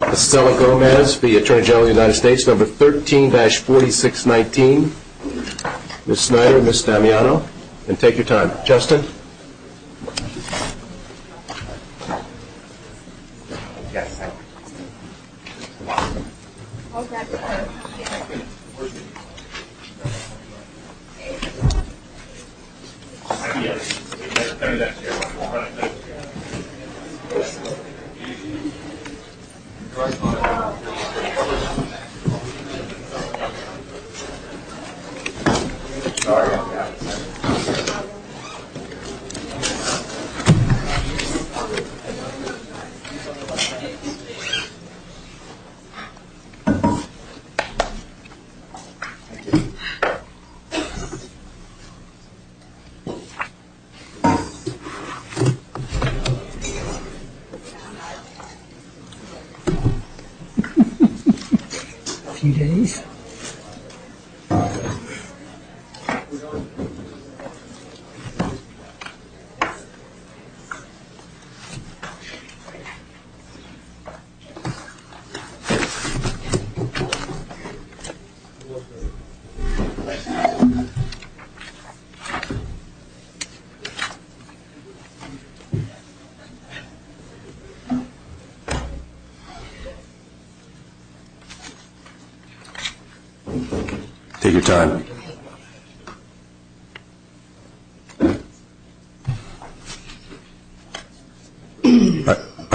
number 13-4619. Ms. Snyder, Ms. Damiano, and take your time. Justin. A few days. By the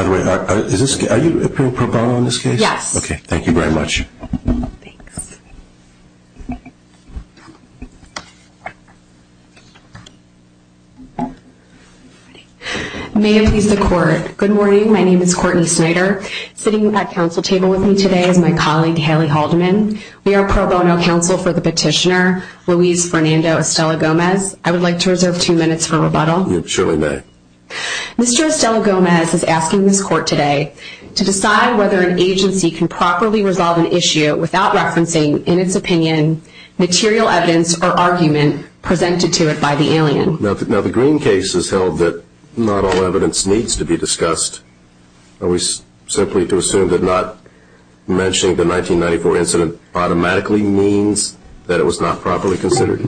way, are you appearing pro bono in this case? Yes. Okay, thank you very much. May it please the court. Good morning, my name is Courtney Snyder. Sitting at your right is Ms. Damiano. At the counsel table with me today is my colleague, Haley Haldeman. We are pro bono counsel for the petitioner, Luis Fernando Estela-Gomez. I would like to reserve two minutes for rebuttal. You surely may. Mr. Estela-Gomez is asking this court today to decide whether an agency can properly resolve an issue without referencing, in its opinion, material evidence or argument presented to it by the alien. Now the Green case has held that not all evidence needs to be discussed. Are we simply to assume that not mentioning the 1994 incident automatically means that it was not properly considered?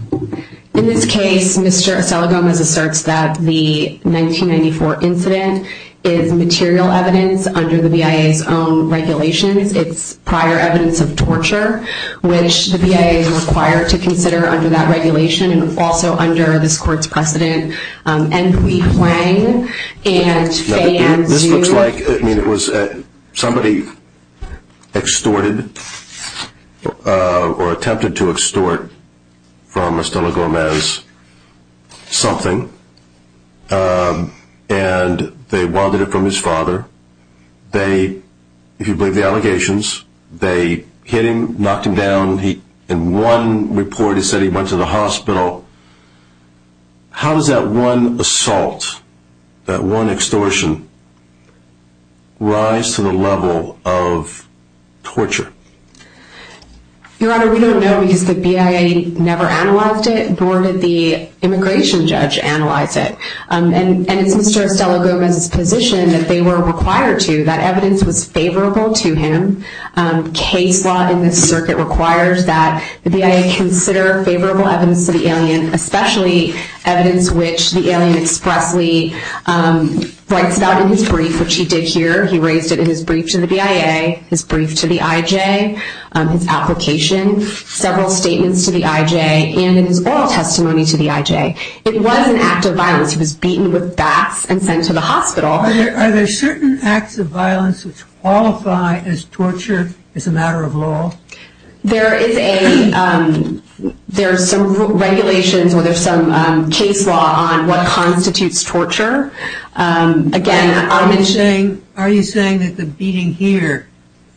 In this case, Mr. Estela-Gomez asserts that the 1994 incident is material evidence under the BIA's own regulations. It's prior evidence of torture, which the BIA is required to consider under that regulation and also under this court's precedent. Mr. Estela-Gomez is asking this court today to decide whether an agency can properly resolve an issue without referencing, in its opinion, material evidence or argument presented to it by the alien. How does that one assault, that one extortion, rise to the level of torture? Your Honor, we don't know because the BIA never analyzed it, nor did the immigration judge analyze it. And it's Mr. Estela-Gomez's position that they were required to, that evidence was favorable to him. Case law in this circuit requires that the BIA consider favorable evidence to the alien, especially evidence which the alien expressly writes about in his brief, which he did here. He raised it in his brief to the BIA, his brief to the IJ, his application, several statements to the IJ, and in his oral testimony to the IJ. It was an act of violence. He was beaten with bats and sent to the hospital. Are there certain acts of violence which qualify as torture as a matter of law? There is a, there are some regulations, or there's some case law on what constitutes torture. Again, I'm... Are you saying that the beating here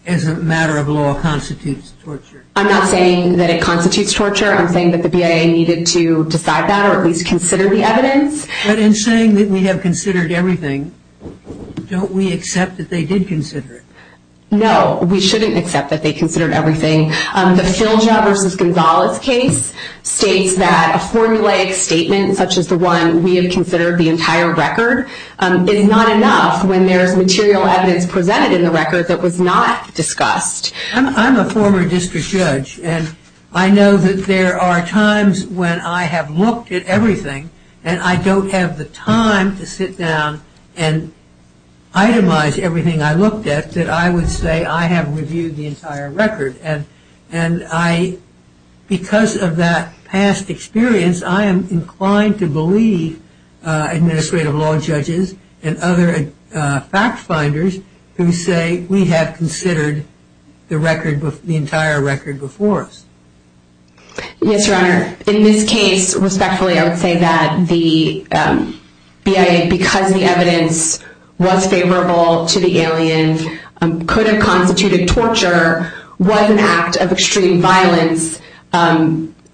as a matter of law constitutes torture? I'm not saying that it constitutes torture. I'm saying that the BIA needed to decide that or at least consider the evidence. But in saying that we have considered everything, don't we accept that they did consider it? No, we shouldn't accept that they considered everything. The Filja v. Gonzalez case states that a formulaic statement such as the one we have considered the entire record is not enough when there is material evidence presented in the record that was not discussed. I'm a former district judge and I know that there are times when I have looked at everything and I don't have the time to sit down and itemize everything I looked at that I would say I have reviewed the entire record. And I, because of that past experience, I am inclined to believe administrative law judges and other fact finders who say we have considered the entire record before us. Yes, Your Honor. In this case, respectfully I would say that the BIA, because the evidence was favorable to the alien, could have constituted torture, was an act of extreme violence.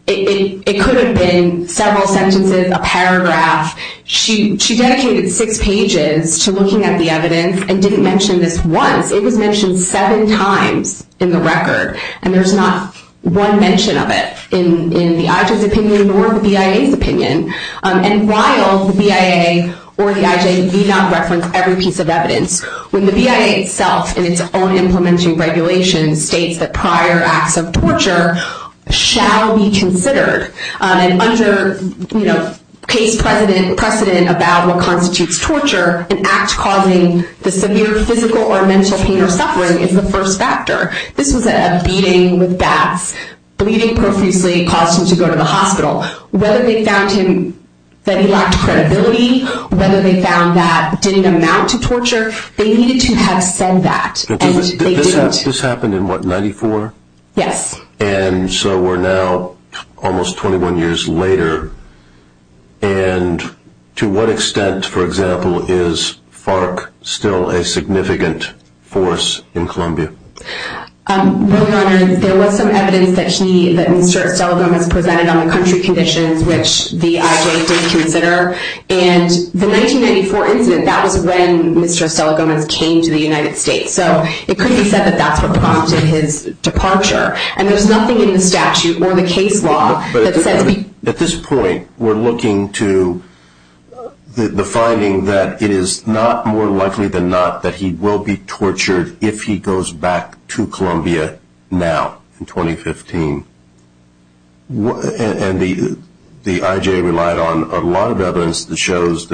It could have been several sentences, a paragraph. She dedicated six pages to looking at the evidence and didn't mention this once. It was mentioned seven times in the record and there's not one mention of it in the IJA's opinion or the BIA's opinion. And while the BIA or the IJA need not reference every piece of evidence, when the BIA itself in its own implementing regulations states that prior acts of torture shall be considered, and under case precedent about what constitutes torture, an act causing the severe physical or mental pain or suffering is the first factor. This was a beating with bats. Bleeding profusely caused him to go to the hospital. Whether they found that he lacked credibility, whether they found that it didn't amount to torture, they needed to have said that. Did this happen in, what, 94? Yes. And so we're now almost 21 years later and to what extent, for example, is FARC still a significant force in Colombia? Well, Your Honor, there was some evidence that Mr. Estela Gomez presented on the country conditions, which the IJA did consider. And the 1994 incident, that was when Mr. Estela Gomez came to the United States. So it could be said that that's what prompted his departure. And there's nothing in the statute or the case law that says he... back to Colombia now in 2015. And the IJA relied on a lot of evidence that shows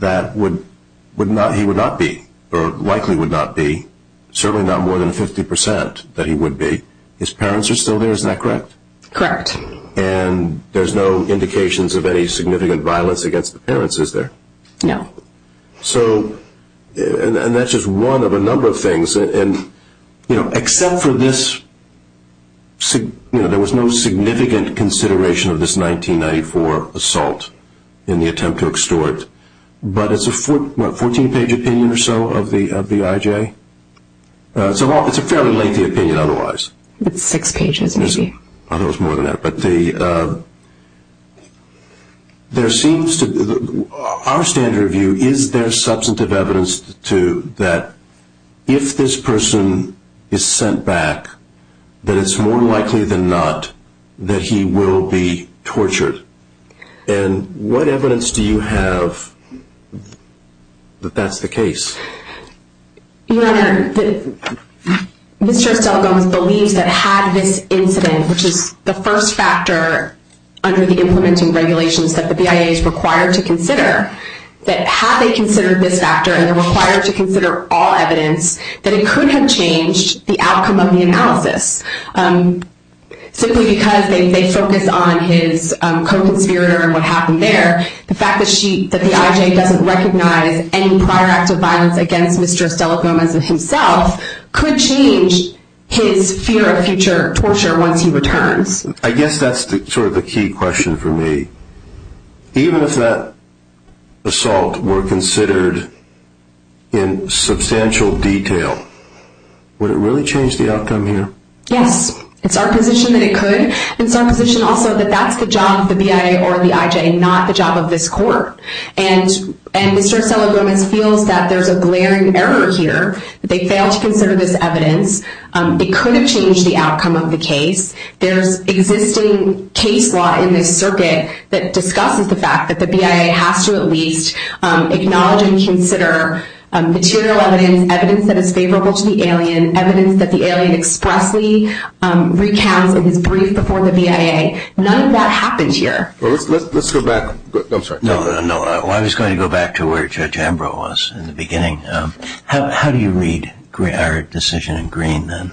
that he would not be, or likely would not be, certainly not more than 50% that he would be. His parents are still there, isn't that correct? Correct. And there's no indications of any significant violence against the parents, is there? No. So, and that's just one of a number of things. And, you know, except for this, you know, there was no significant consideration of this 1994 assault in the attempt to extort. But it's a, what, 14-page opinion or so of the IJA? It's a fairly lengthy opinion otherwise. It's six pages, maybe. It's more than that. But the, there seems to, our standard of view, is there substantive evidence to that if this person is sent back, that it's more likely than not that he will be tortured? And what evidence do you have that that's the case? Your Honor, Mr. Stelgomes believes that had this incident, which is the first factor under the implementing regulations that the BIA is required to consider, that had they considered this factor and required to consider all evidence, that it could have changed the outcome of the analysis. Simply because they focus on his co-conspirator and what happened there. The fact that she, that the IJA doesn't recognize any prior acts of violence against Mr. Stelgomes himself could change his fear of future torture once he returns. I guess that's sort of the key question for me. Even if that assault were considered in substantial detail, would it really change the outcome here? Yes. It's our position that it could. It's our position also that that's the job of the BIA or the IJA, not the job of this court. And Mr. Stelgomes feels that there's a glaring error here. They failed to consider this evidence. It could have changed the outcome of the case. There's existing case law in this circuit that discusses the fact that the BIA has to at least acknowledge and consider material evidence, evidence that is favorable to the alien, and evidence that the alien expressly recounts in his brief before the BIA. None of that happens here. Let's go back. I'm sorry. No, no, no. I was going to go back to where Judge Ambrose was in the beginning. How do you read our decision in green then?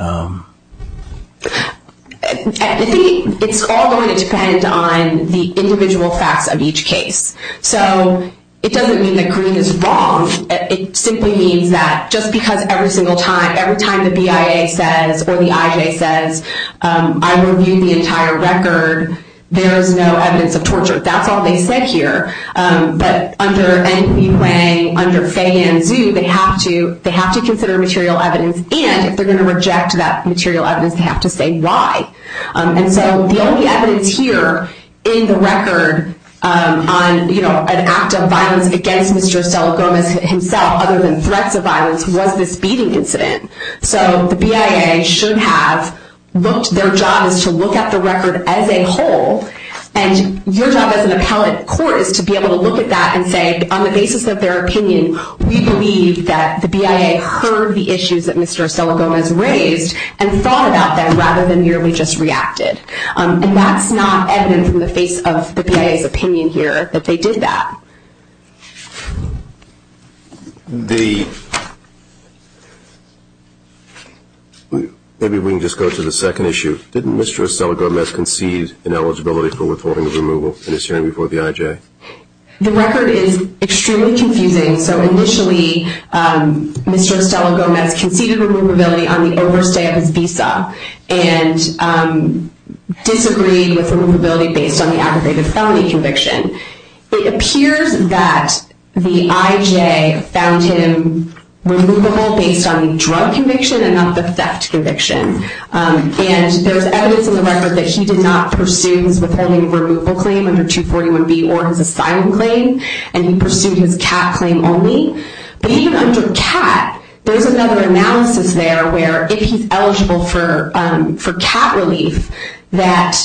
I think it's all going to depend on the individual facts of each case. So it doesn't mean that green is wrong. It simply means that just because every single time, every time the BIA says or the IJA says, I reviewed the entire record, there is no evidence of torture. That's all they said here. But under NB Plain, under Fay and Zhu, they have to consider material evidence, and if they're going to reject that material evidence, they have to say why. And so the only evidence here in the record on, you know, an act of violence against Mr. Oselegomes himself, other than threats of violence, was this beating incident. So the BIA should have looked, their job is to look at the record as a whole, and your job as an appellate court is to be able to look at that and say, on the basis of their opinion, we believe that the BIA heard the issues that Mr. Oselegomes raised and thought about them rather than merely just reacted. And that's not evident from the face of the BIA's opinion here that they did that. Maybe we can just go to the second issue. Didn't Mr. Oselegomes concede ineligibility for withholding of removal in his hearing before the IJA? The record is extremely confusing. So initially, Mr. Oselegomes conceded removability on the overstay of his visa and disagreed with removability based on the aggravated felony conviction. It appears that the IJA found him removable based on the drug conviction and not the theft conviction. And there's evidence in the record that he did not pursue his withholding of removal claim under 241B or his asylum claim, and he pursued his cat claim only. But even under cat, there's another analysis there where if he's eligible for cat relief, that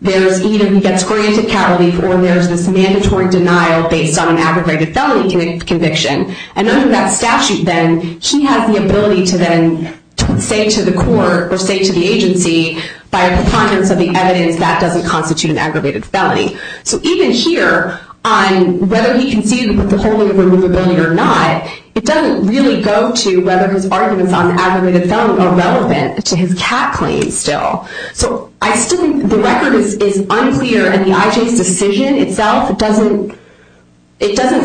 there's either he gets granted cat relief or there's this mandatory denial based on an aggravated felony conviction. And under that statute, then, he has the ability to then say to the court or say to the agency, by a preponderance of the evidence, that doesn't constitute an aggravated felony. So even here, on whether he conceded withholding of removability or not, it doesn't really go to whether his arguments on the aggravated felony are relevant to his cat claim still. So I still think the record is unclear, and the IJA's decision itself, it doesn't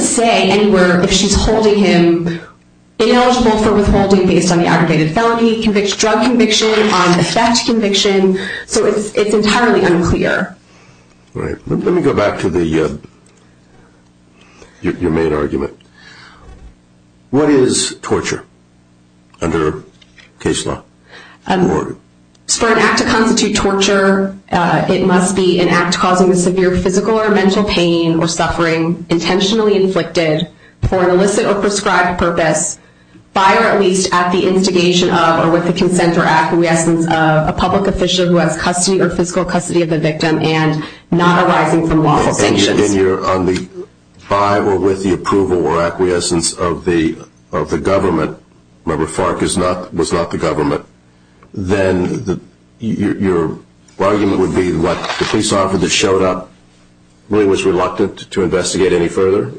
say anywhere if she's holding him ineligible for withholding based on the aggravated felony drug conviction, on the theft conviction. So it's entirely unclear. All right. Let me go back to your main argument. What is torture under case law? For an act to constitute torture, it must be an act causing a severe physical or mental pain or suffering intentionally inflicted for an illicit or prescribed purpose by or at least at the instigation of or with the consent or acquiescence of a public official who has custody or physical custody of the victim and not arising from lawful sanctions. And you're on the by or with the approval or acquiescence of the government, remember FARC was not the government, then your argument would be what the police officer that showed up really was reluctant to investigate any further?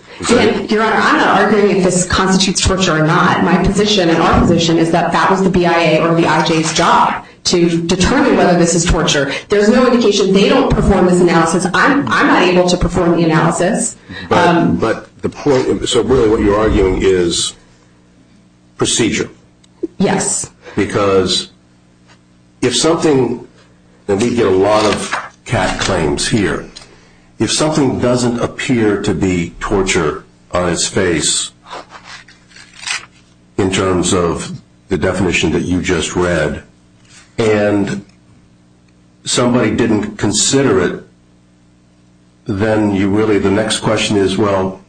Your Honor, I'm not arguing if this constitutes torture or not. My position and our position is that that was the BIA or the IJA's job to determine whether this is torture. There's no indication they don't perform this analysis. I'm not able to perform the analysis. But the point, so really what you're arguing is procedure. Yes. Because if something, and we get a lot of CAD claims here, if something doesn't appear to be torture on its face in terms of the definition that you just read and somebody didn't consider it, then really the next question is, well,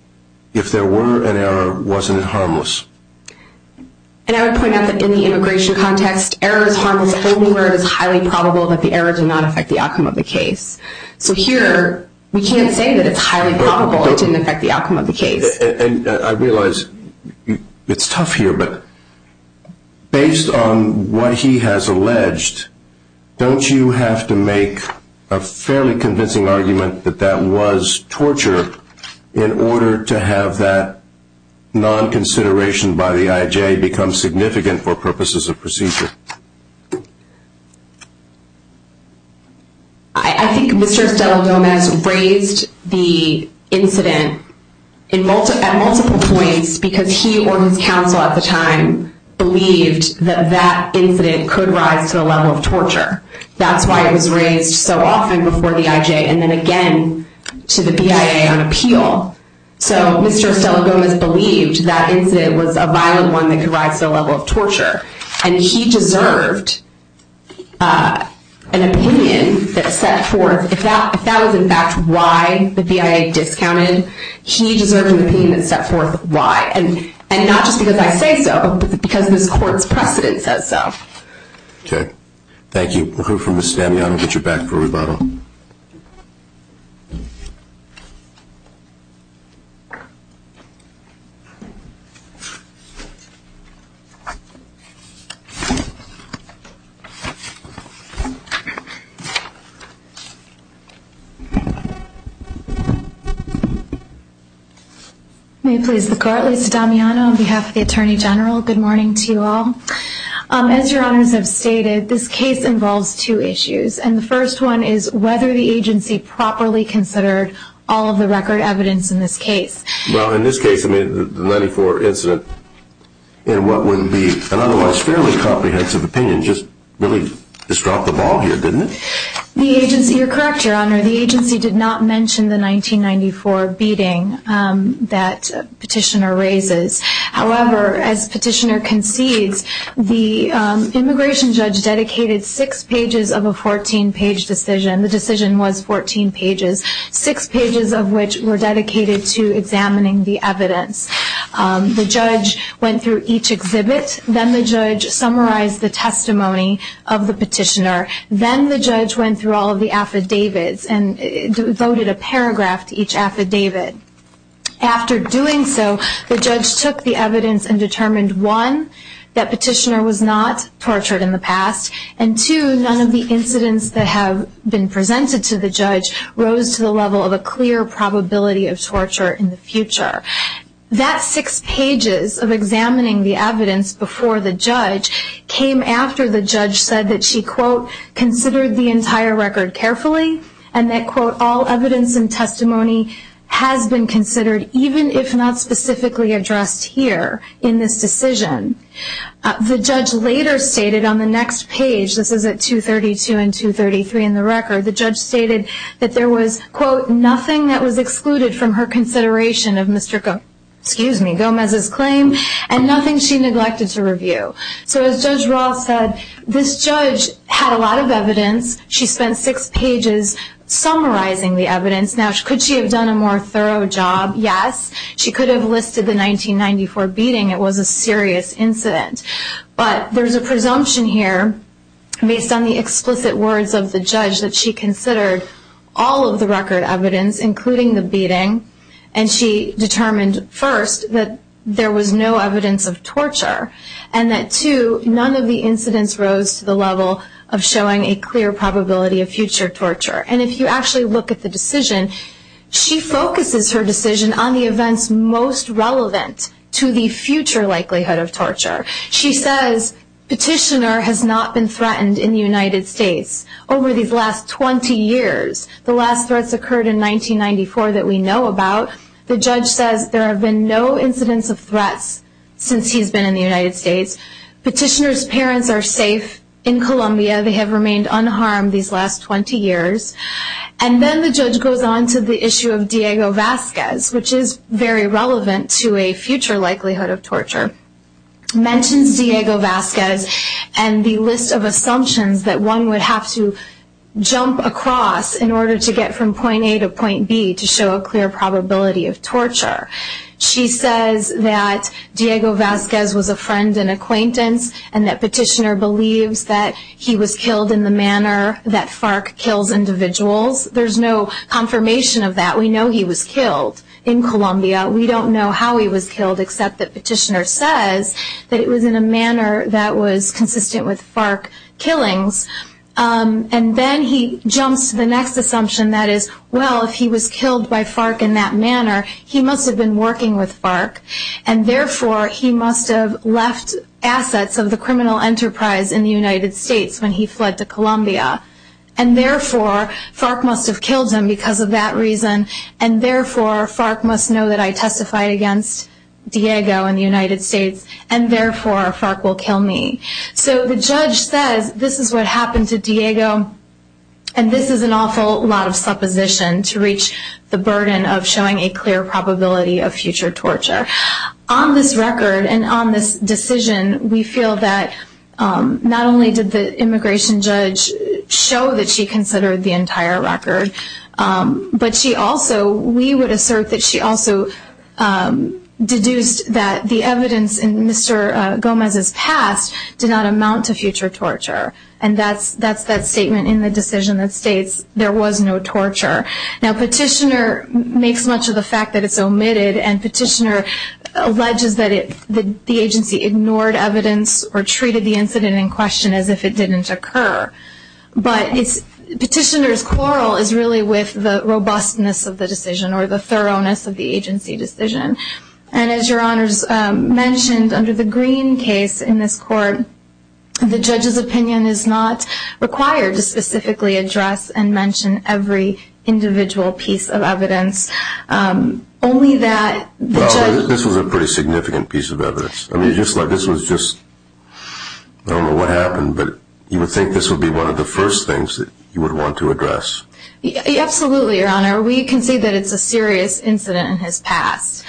if there were an error, wasn't it harmless? And I would point out that in the immigration context, error is harmless only where it is highly probable that the error did not affect the outcome of the case. So here we can't say that it's highly probable it didn't affect the outcome of the case. I realize it's tough here, but based on what he has alleged, don't you have to make a fairly convincing argument that that was torture in order to have that non-consideration by the IJA become significant for purposes of procedure? I think Mr. Estela-Gomez raised the incident at multiple points because he or his counsel at the time believed that that incident could rise to the level of torture. That's why it was raised so often before the IJA and then again to the BIA on appeal. So Mr. Estela-Gomez believed that incident was a violent one that could rise to the level of torture. And he deserved an opinion that set forth, if that was in fact why the BIA discounted, he deserved an opinion that set forth why. And not just because I say so, but because this court's precedent says so. Okay. Thank you. We'll hear from Ms. Damiano and get you back for rebuttal. May it please the Court, Liz Damiano on behalf of the Attorney General, good morning to you all. As your honors have stated, this case involves two issues. And the first one is whether the agency properly considered all of the record evidence in this case. Well, in this case, the 1994 incident, in what would be an otherwise fairly comprehensive opinion, just really just dropped the ball here, didn't it? You're correct, your honor. The agency did not mention the 1994 beating that Petitioner raises. However, as Petitioner concedes, the immigration judge dedicated six pages of a 14-page decision. The decision was 14 pages, six pages of which were dedicated to examining the evidence. The judge went through each exhibit. Then the judge summarized the testimony of the petitioner. Then the judge went through all of the affidavits and voted a paragraph to each affidavit. After doing so, the judge took the evidence and determined, one, that Petitioner was not tortured in the past. And two, none of the incidents that have been presented to the judge rose to the level of a clear probability of torture in the future. That six pages of examining the evidence before the judge came after the judge said that she, quote, all evidence and testimony has been considered, even if not specifically addressed here in this decision. The judge later stated on the next page, this is at 232 and 233 in the record, the judge stated that there was, quote, nothing that was excluded from her consideration of Mr. Gomez's claim and nothing she neglected to review. So as Judge Roth said, this judge had a lot of evidence. She spent six pages summarizing the evidence. Now, could she have done a more thorough job? Yes. She could have listed the 1994 beating. It was a serious incident. But there's a presumption here, based on the explicit words of the judge, that she considered all of the record evidence, including the beating, and she determined, first, that there was no evidence of torture, and that, two, none of the incidents rose to the level of showing a clear probability of future torture. And if you actually look at the decision, she focuses her decision on the events most relevant to the future likelihood of torture. She says, petitioner has not been threatened in the United States over these last 20 years. The last threats occurred in 1994 that we know about. The judge says there have been no incidents of threats since he's been in the United States. Petitioner's parents are safe in Colombia. They have remained unharmed these last 20 years. And then the judge goes on to the issue of Diego Vasquez, which is very relevant to a future likelihood of torture, mentions Diego Vasquez and the list of assumptions that one would have to jump across in order to get from point A to point B to show a clear probability of torture. She says that Diego Vasquez was a friend and acquaintance, and that petitioner believes that he was killed in the manner that FARC kills individuals. There's no confirmation of that. We know he was killed in Colombia. We don't know how he was killed, except that petitioner says that it was in a manner that was consistent with FARC killings. And then he jumps to the next assumption, that is, well, if he was killed by FARC in that manner, he must have been working with FARC, and therefore he must have left assets of the criminal enterprise in the United States when he fled to Colombia. And therefore FARC must have killed him because of that reason, and therefore FARC must know that I testified against Diego in the United States, and therefore FARC will kill me. So the judge says this is what happened to Diego, and this is an awful lot of supposition to reach the burden of showing a clear probability of future torture. On this record and on this decision, we feel that not only did the immigration judge show that she considered the entire record, but she also, we would assert that she also, deduced that the evidence in Mr. Gomez's past did not amount to future torture. And that's that statement in the decision that states there was no torture. Now petitioner makes much of the fact that it's omitted, and petitioner alleges that the agency ignored evidence or treated the incident in question as if it didn't occur. But petitioner's quarrel is really with the robustness of the decision or the thoroughness of the agency decision. And as Your Honors mentioned, under the Green case in this court, the judge's opinion is not required to specifically address and mention every individual piece of evidence. Only that the judge... Well, this was a pretty significant piece of evidence. I mean, just like this was just, I don't know what happened, but you would think this would be one of the first things that you would want to address. Absolutely, Your Honor. We can see that it's a serious incident in his past,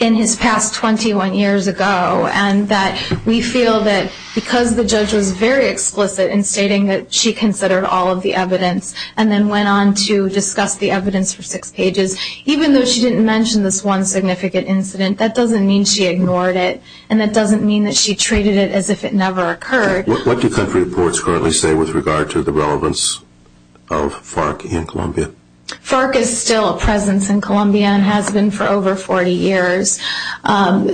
in his past 21 years ago, and that we feel that because the judge was very explicit in stating that she considered all of the evidence and then went on to discuss the evidence for six pages, even though she didn't mention this one significant incident, that doesn't mean she ignored it, and that doesn't mean that she treated it as if it never occurred. What do country reports currently say with regard to the relevance of FARC in Columbia? FARC is still a presence in Columbia and has been for over 40 years. Isn't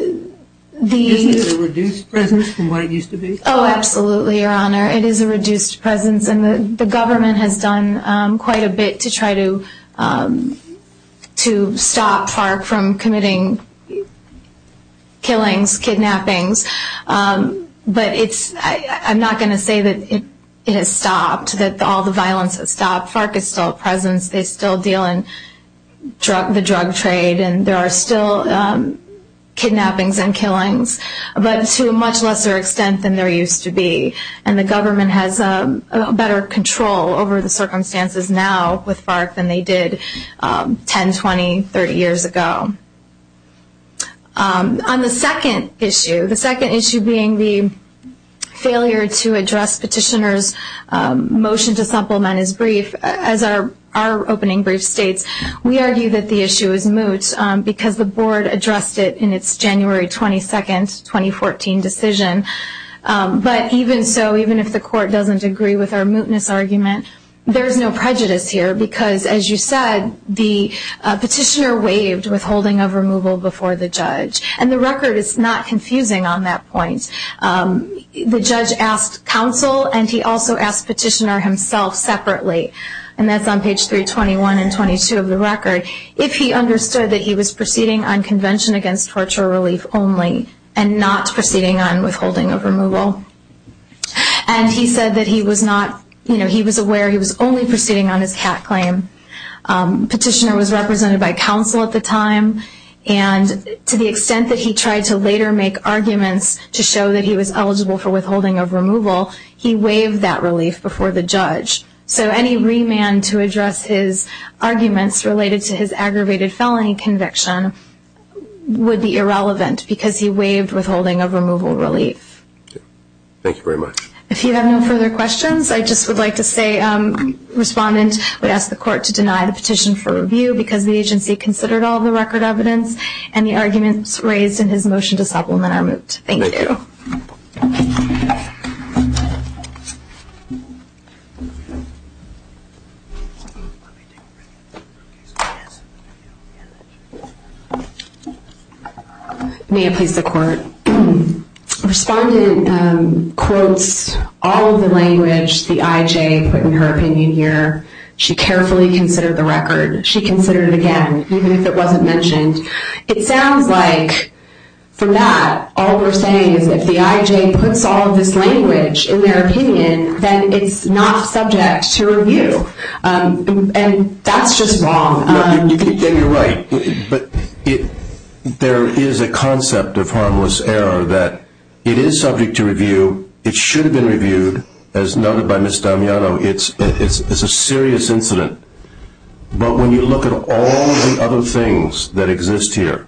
it a reduced presence from what it used to be? Oh, absolutely, Your Honor. It is a reduced presence, and the government has done quite a bit to try to stop FARC from committing killings, kidnappings. But I'm not going to say that it has stopped, that all the violence has stopped. FARC is still a presence. They still deal in the drug trade, and there are still kidnappings and killings, but to a much lesser extent than there used to be, and the government has better control over the circumstances now with FARC than they did 10, 20, 30 years ago. On the second issue, the second issue being the failure to address petitioner's motion to supplement his brief, as our opening brief states, we argue that the issue is moot because the board addressed it in its January 22, 2014 decision. But even so, even if the court doesn't agree with our mootness argument, there is no prejudice here because, as you said, the petitioner waived withholding of removal before the judge, and the record is not confusing on that point. The judge asked counsel, and he also asked petitioner himself separately, and that's on page 321 and 322 of the record, if he understood that he was proceeding on convention against torture relief only and not proceeding on withholding of removal. And he said that he was aware he was only proceeding on his cat claim. Petitioner was represented by counsel at the time, and to the extent that he tried to later make arguments to show that he was eligible for withholding of removal, he waived that relief before the judge. So any remand to address his arguments related to his aggravated felony conviction would be irrelevant because he waived withholding of removal relief. Thank you very much. If you have no further questions, I just would like to say, Respondent, we ask the court to deny the petition for review because the agency considered all the record evidence and the arguments raised in his motion to supplement our moot. Thank you. Thank you. May it please the court. Respondent quotes all of the language the IJ put in her opinion here. She carefully considered the record. She considered it again, even if it wasn't mentioned. It sounds like from that, all we're saying is if the IJ puts all of this language in their opinion, then it's not subject to review, and that's just wrong. You're right, but there is a concept of harmless error that it is subject to review. It should have been reviewed, as noted by Ms. Damiano. It's a serious incident. But when you look at all the other things that exist here,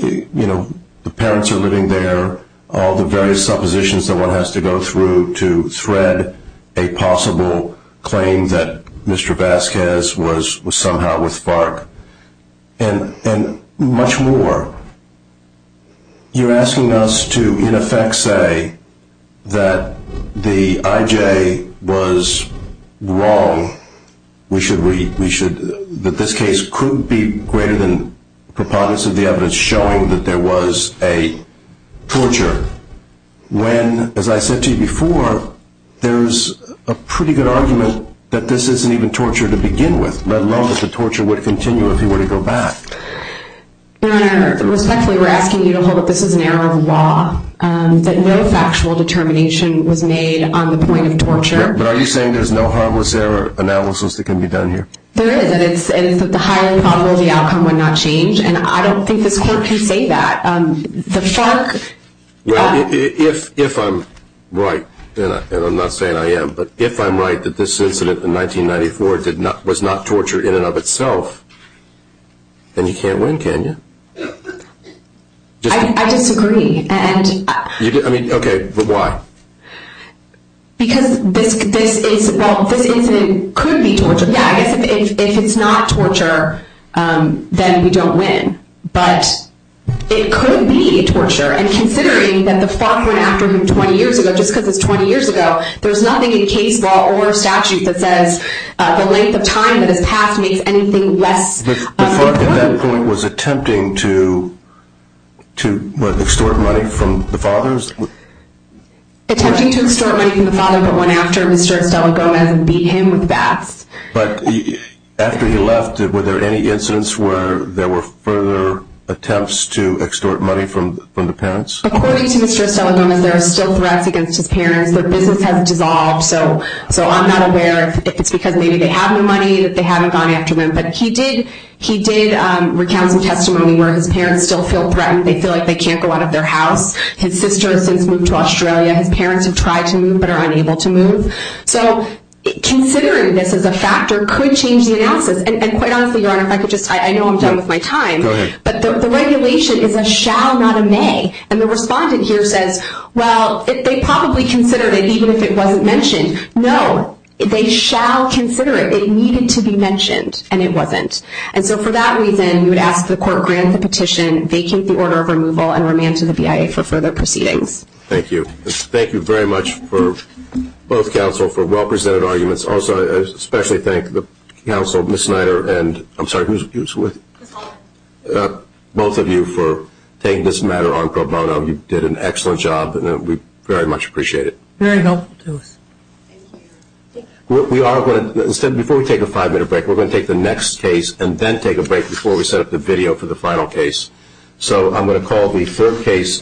you know, the parents are living there, all the various suppositions that one has to go through to thread a possible claim that Mr. Vasquez was somehow with FARC, and much more. You're asking us to, in effect, say that the IJ was wrong, that this case could be greater than preponderance of the evidence showing that there was a torture, when, as I said to you before, there's a pretty good argument that this isn't even torture to begin with, let alone that the torture would continue if he were to go back. Your Honor, respectfully, we're asking you to hold that this is an error of law, that no factual determination was made on the point of torture. But are you saying there's no harmless error analysis that can be done here? There is, and it's that the higher probability outcome would not change, and I don't think this Court can say that. Well, if I'm right, and I'm not saying I am, but if I'm right that this incident in 1994 was not torture in and of itself, then you can't win, can you? I disagree. Okay, but why? Because this incident could be torture. Yeah, I guess if it's not torture, then we don't win, but it could be torture, and considering that the FARC went after him 20 years ago, just because it's 20 years ago, there's nothing in case law or statute that says the length of time that has passed makes anything less important. The FARC at that point was attempting to extort money from the fathers? Attempting to extort money from the father, but went after Mr. Estela Gomez and beat him with bats. But after he left, were there any incidents where there were further attempts to extort money from the parents? According to Mr. Estela Gomez, there are still threats against his parents. Their business hasn't dissolved, so I'm not aware if it's because maybe they have the money that they haven't gone after him. But he did recount some testimony where his parents still feel threatened. They feel like they can't go out of their house. His sister has since moved to Australia. His parents have tried to move, but are unable to move. So considering this as a factor could change the analysis. And quite honestly, Your Honor, if I could just, I know I'm done with my time. Go ahead. But the regulation is a shall, not a may. And the respondent here says, well, they probably considered it, even if it wasn't mentioned. No, they shall consider it. It needed to be mentioned, and it wasn't. And so for that reason, we would ask the court grant the petition, vacate the order of removal, and remand to the BIA for further proceedings. Thank you. Thank you very much for both counsel for well-presented arguments. Also, I especially thank the counsel, Ms. Snyder, and I'm sorry, who's with? Ms. Hoffman. Both of you for taking this matter on pro bono. You did an excellent job, and we very much appreciate it. Very helpful to us. Before we take a five-minute break, we're going to take the next case and then take a break before we set up the video for the final case. So I'm going to call the third case.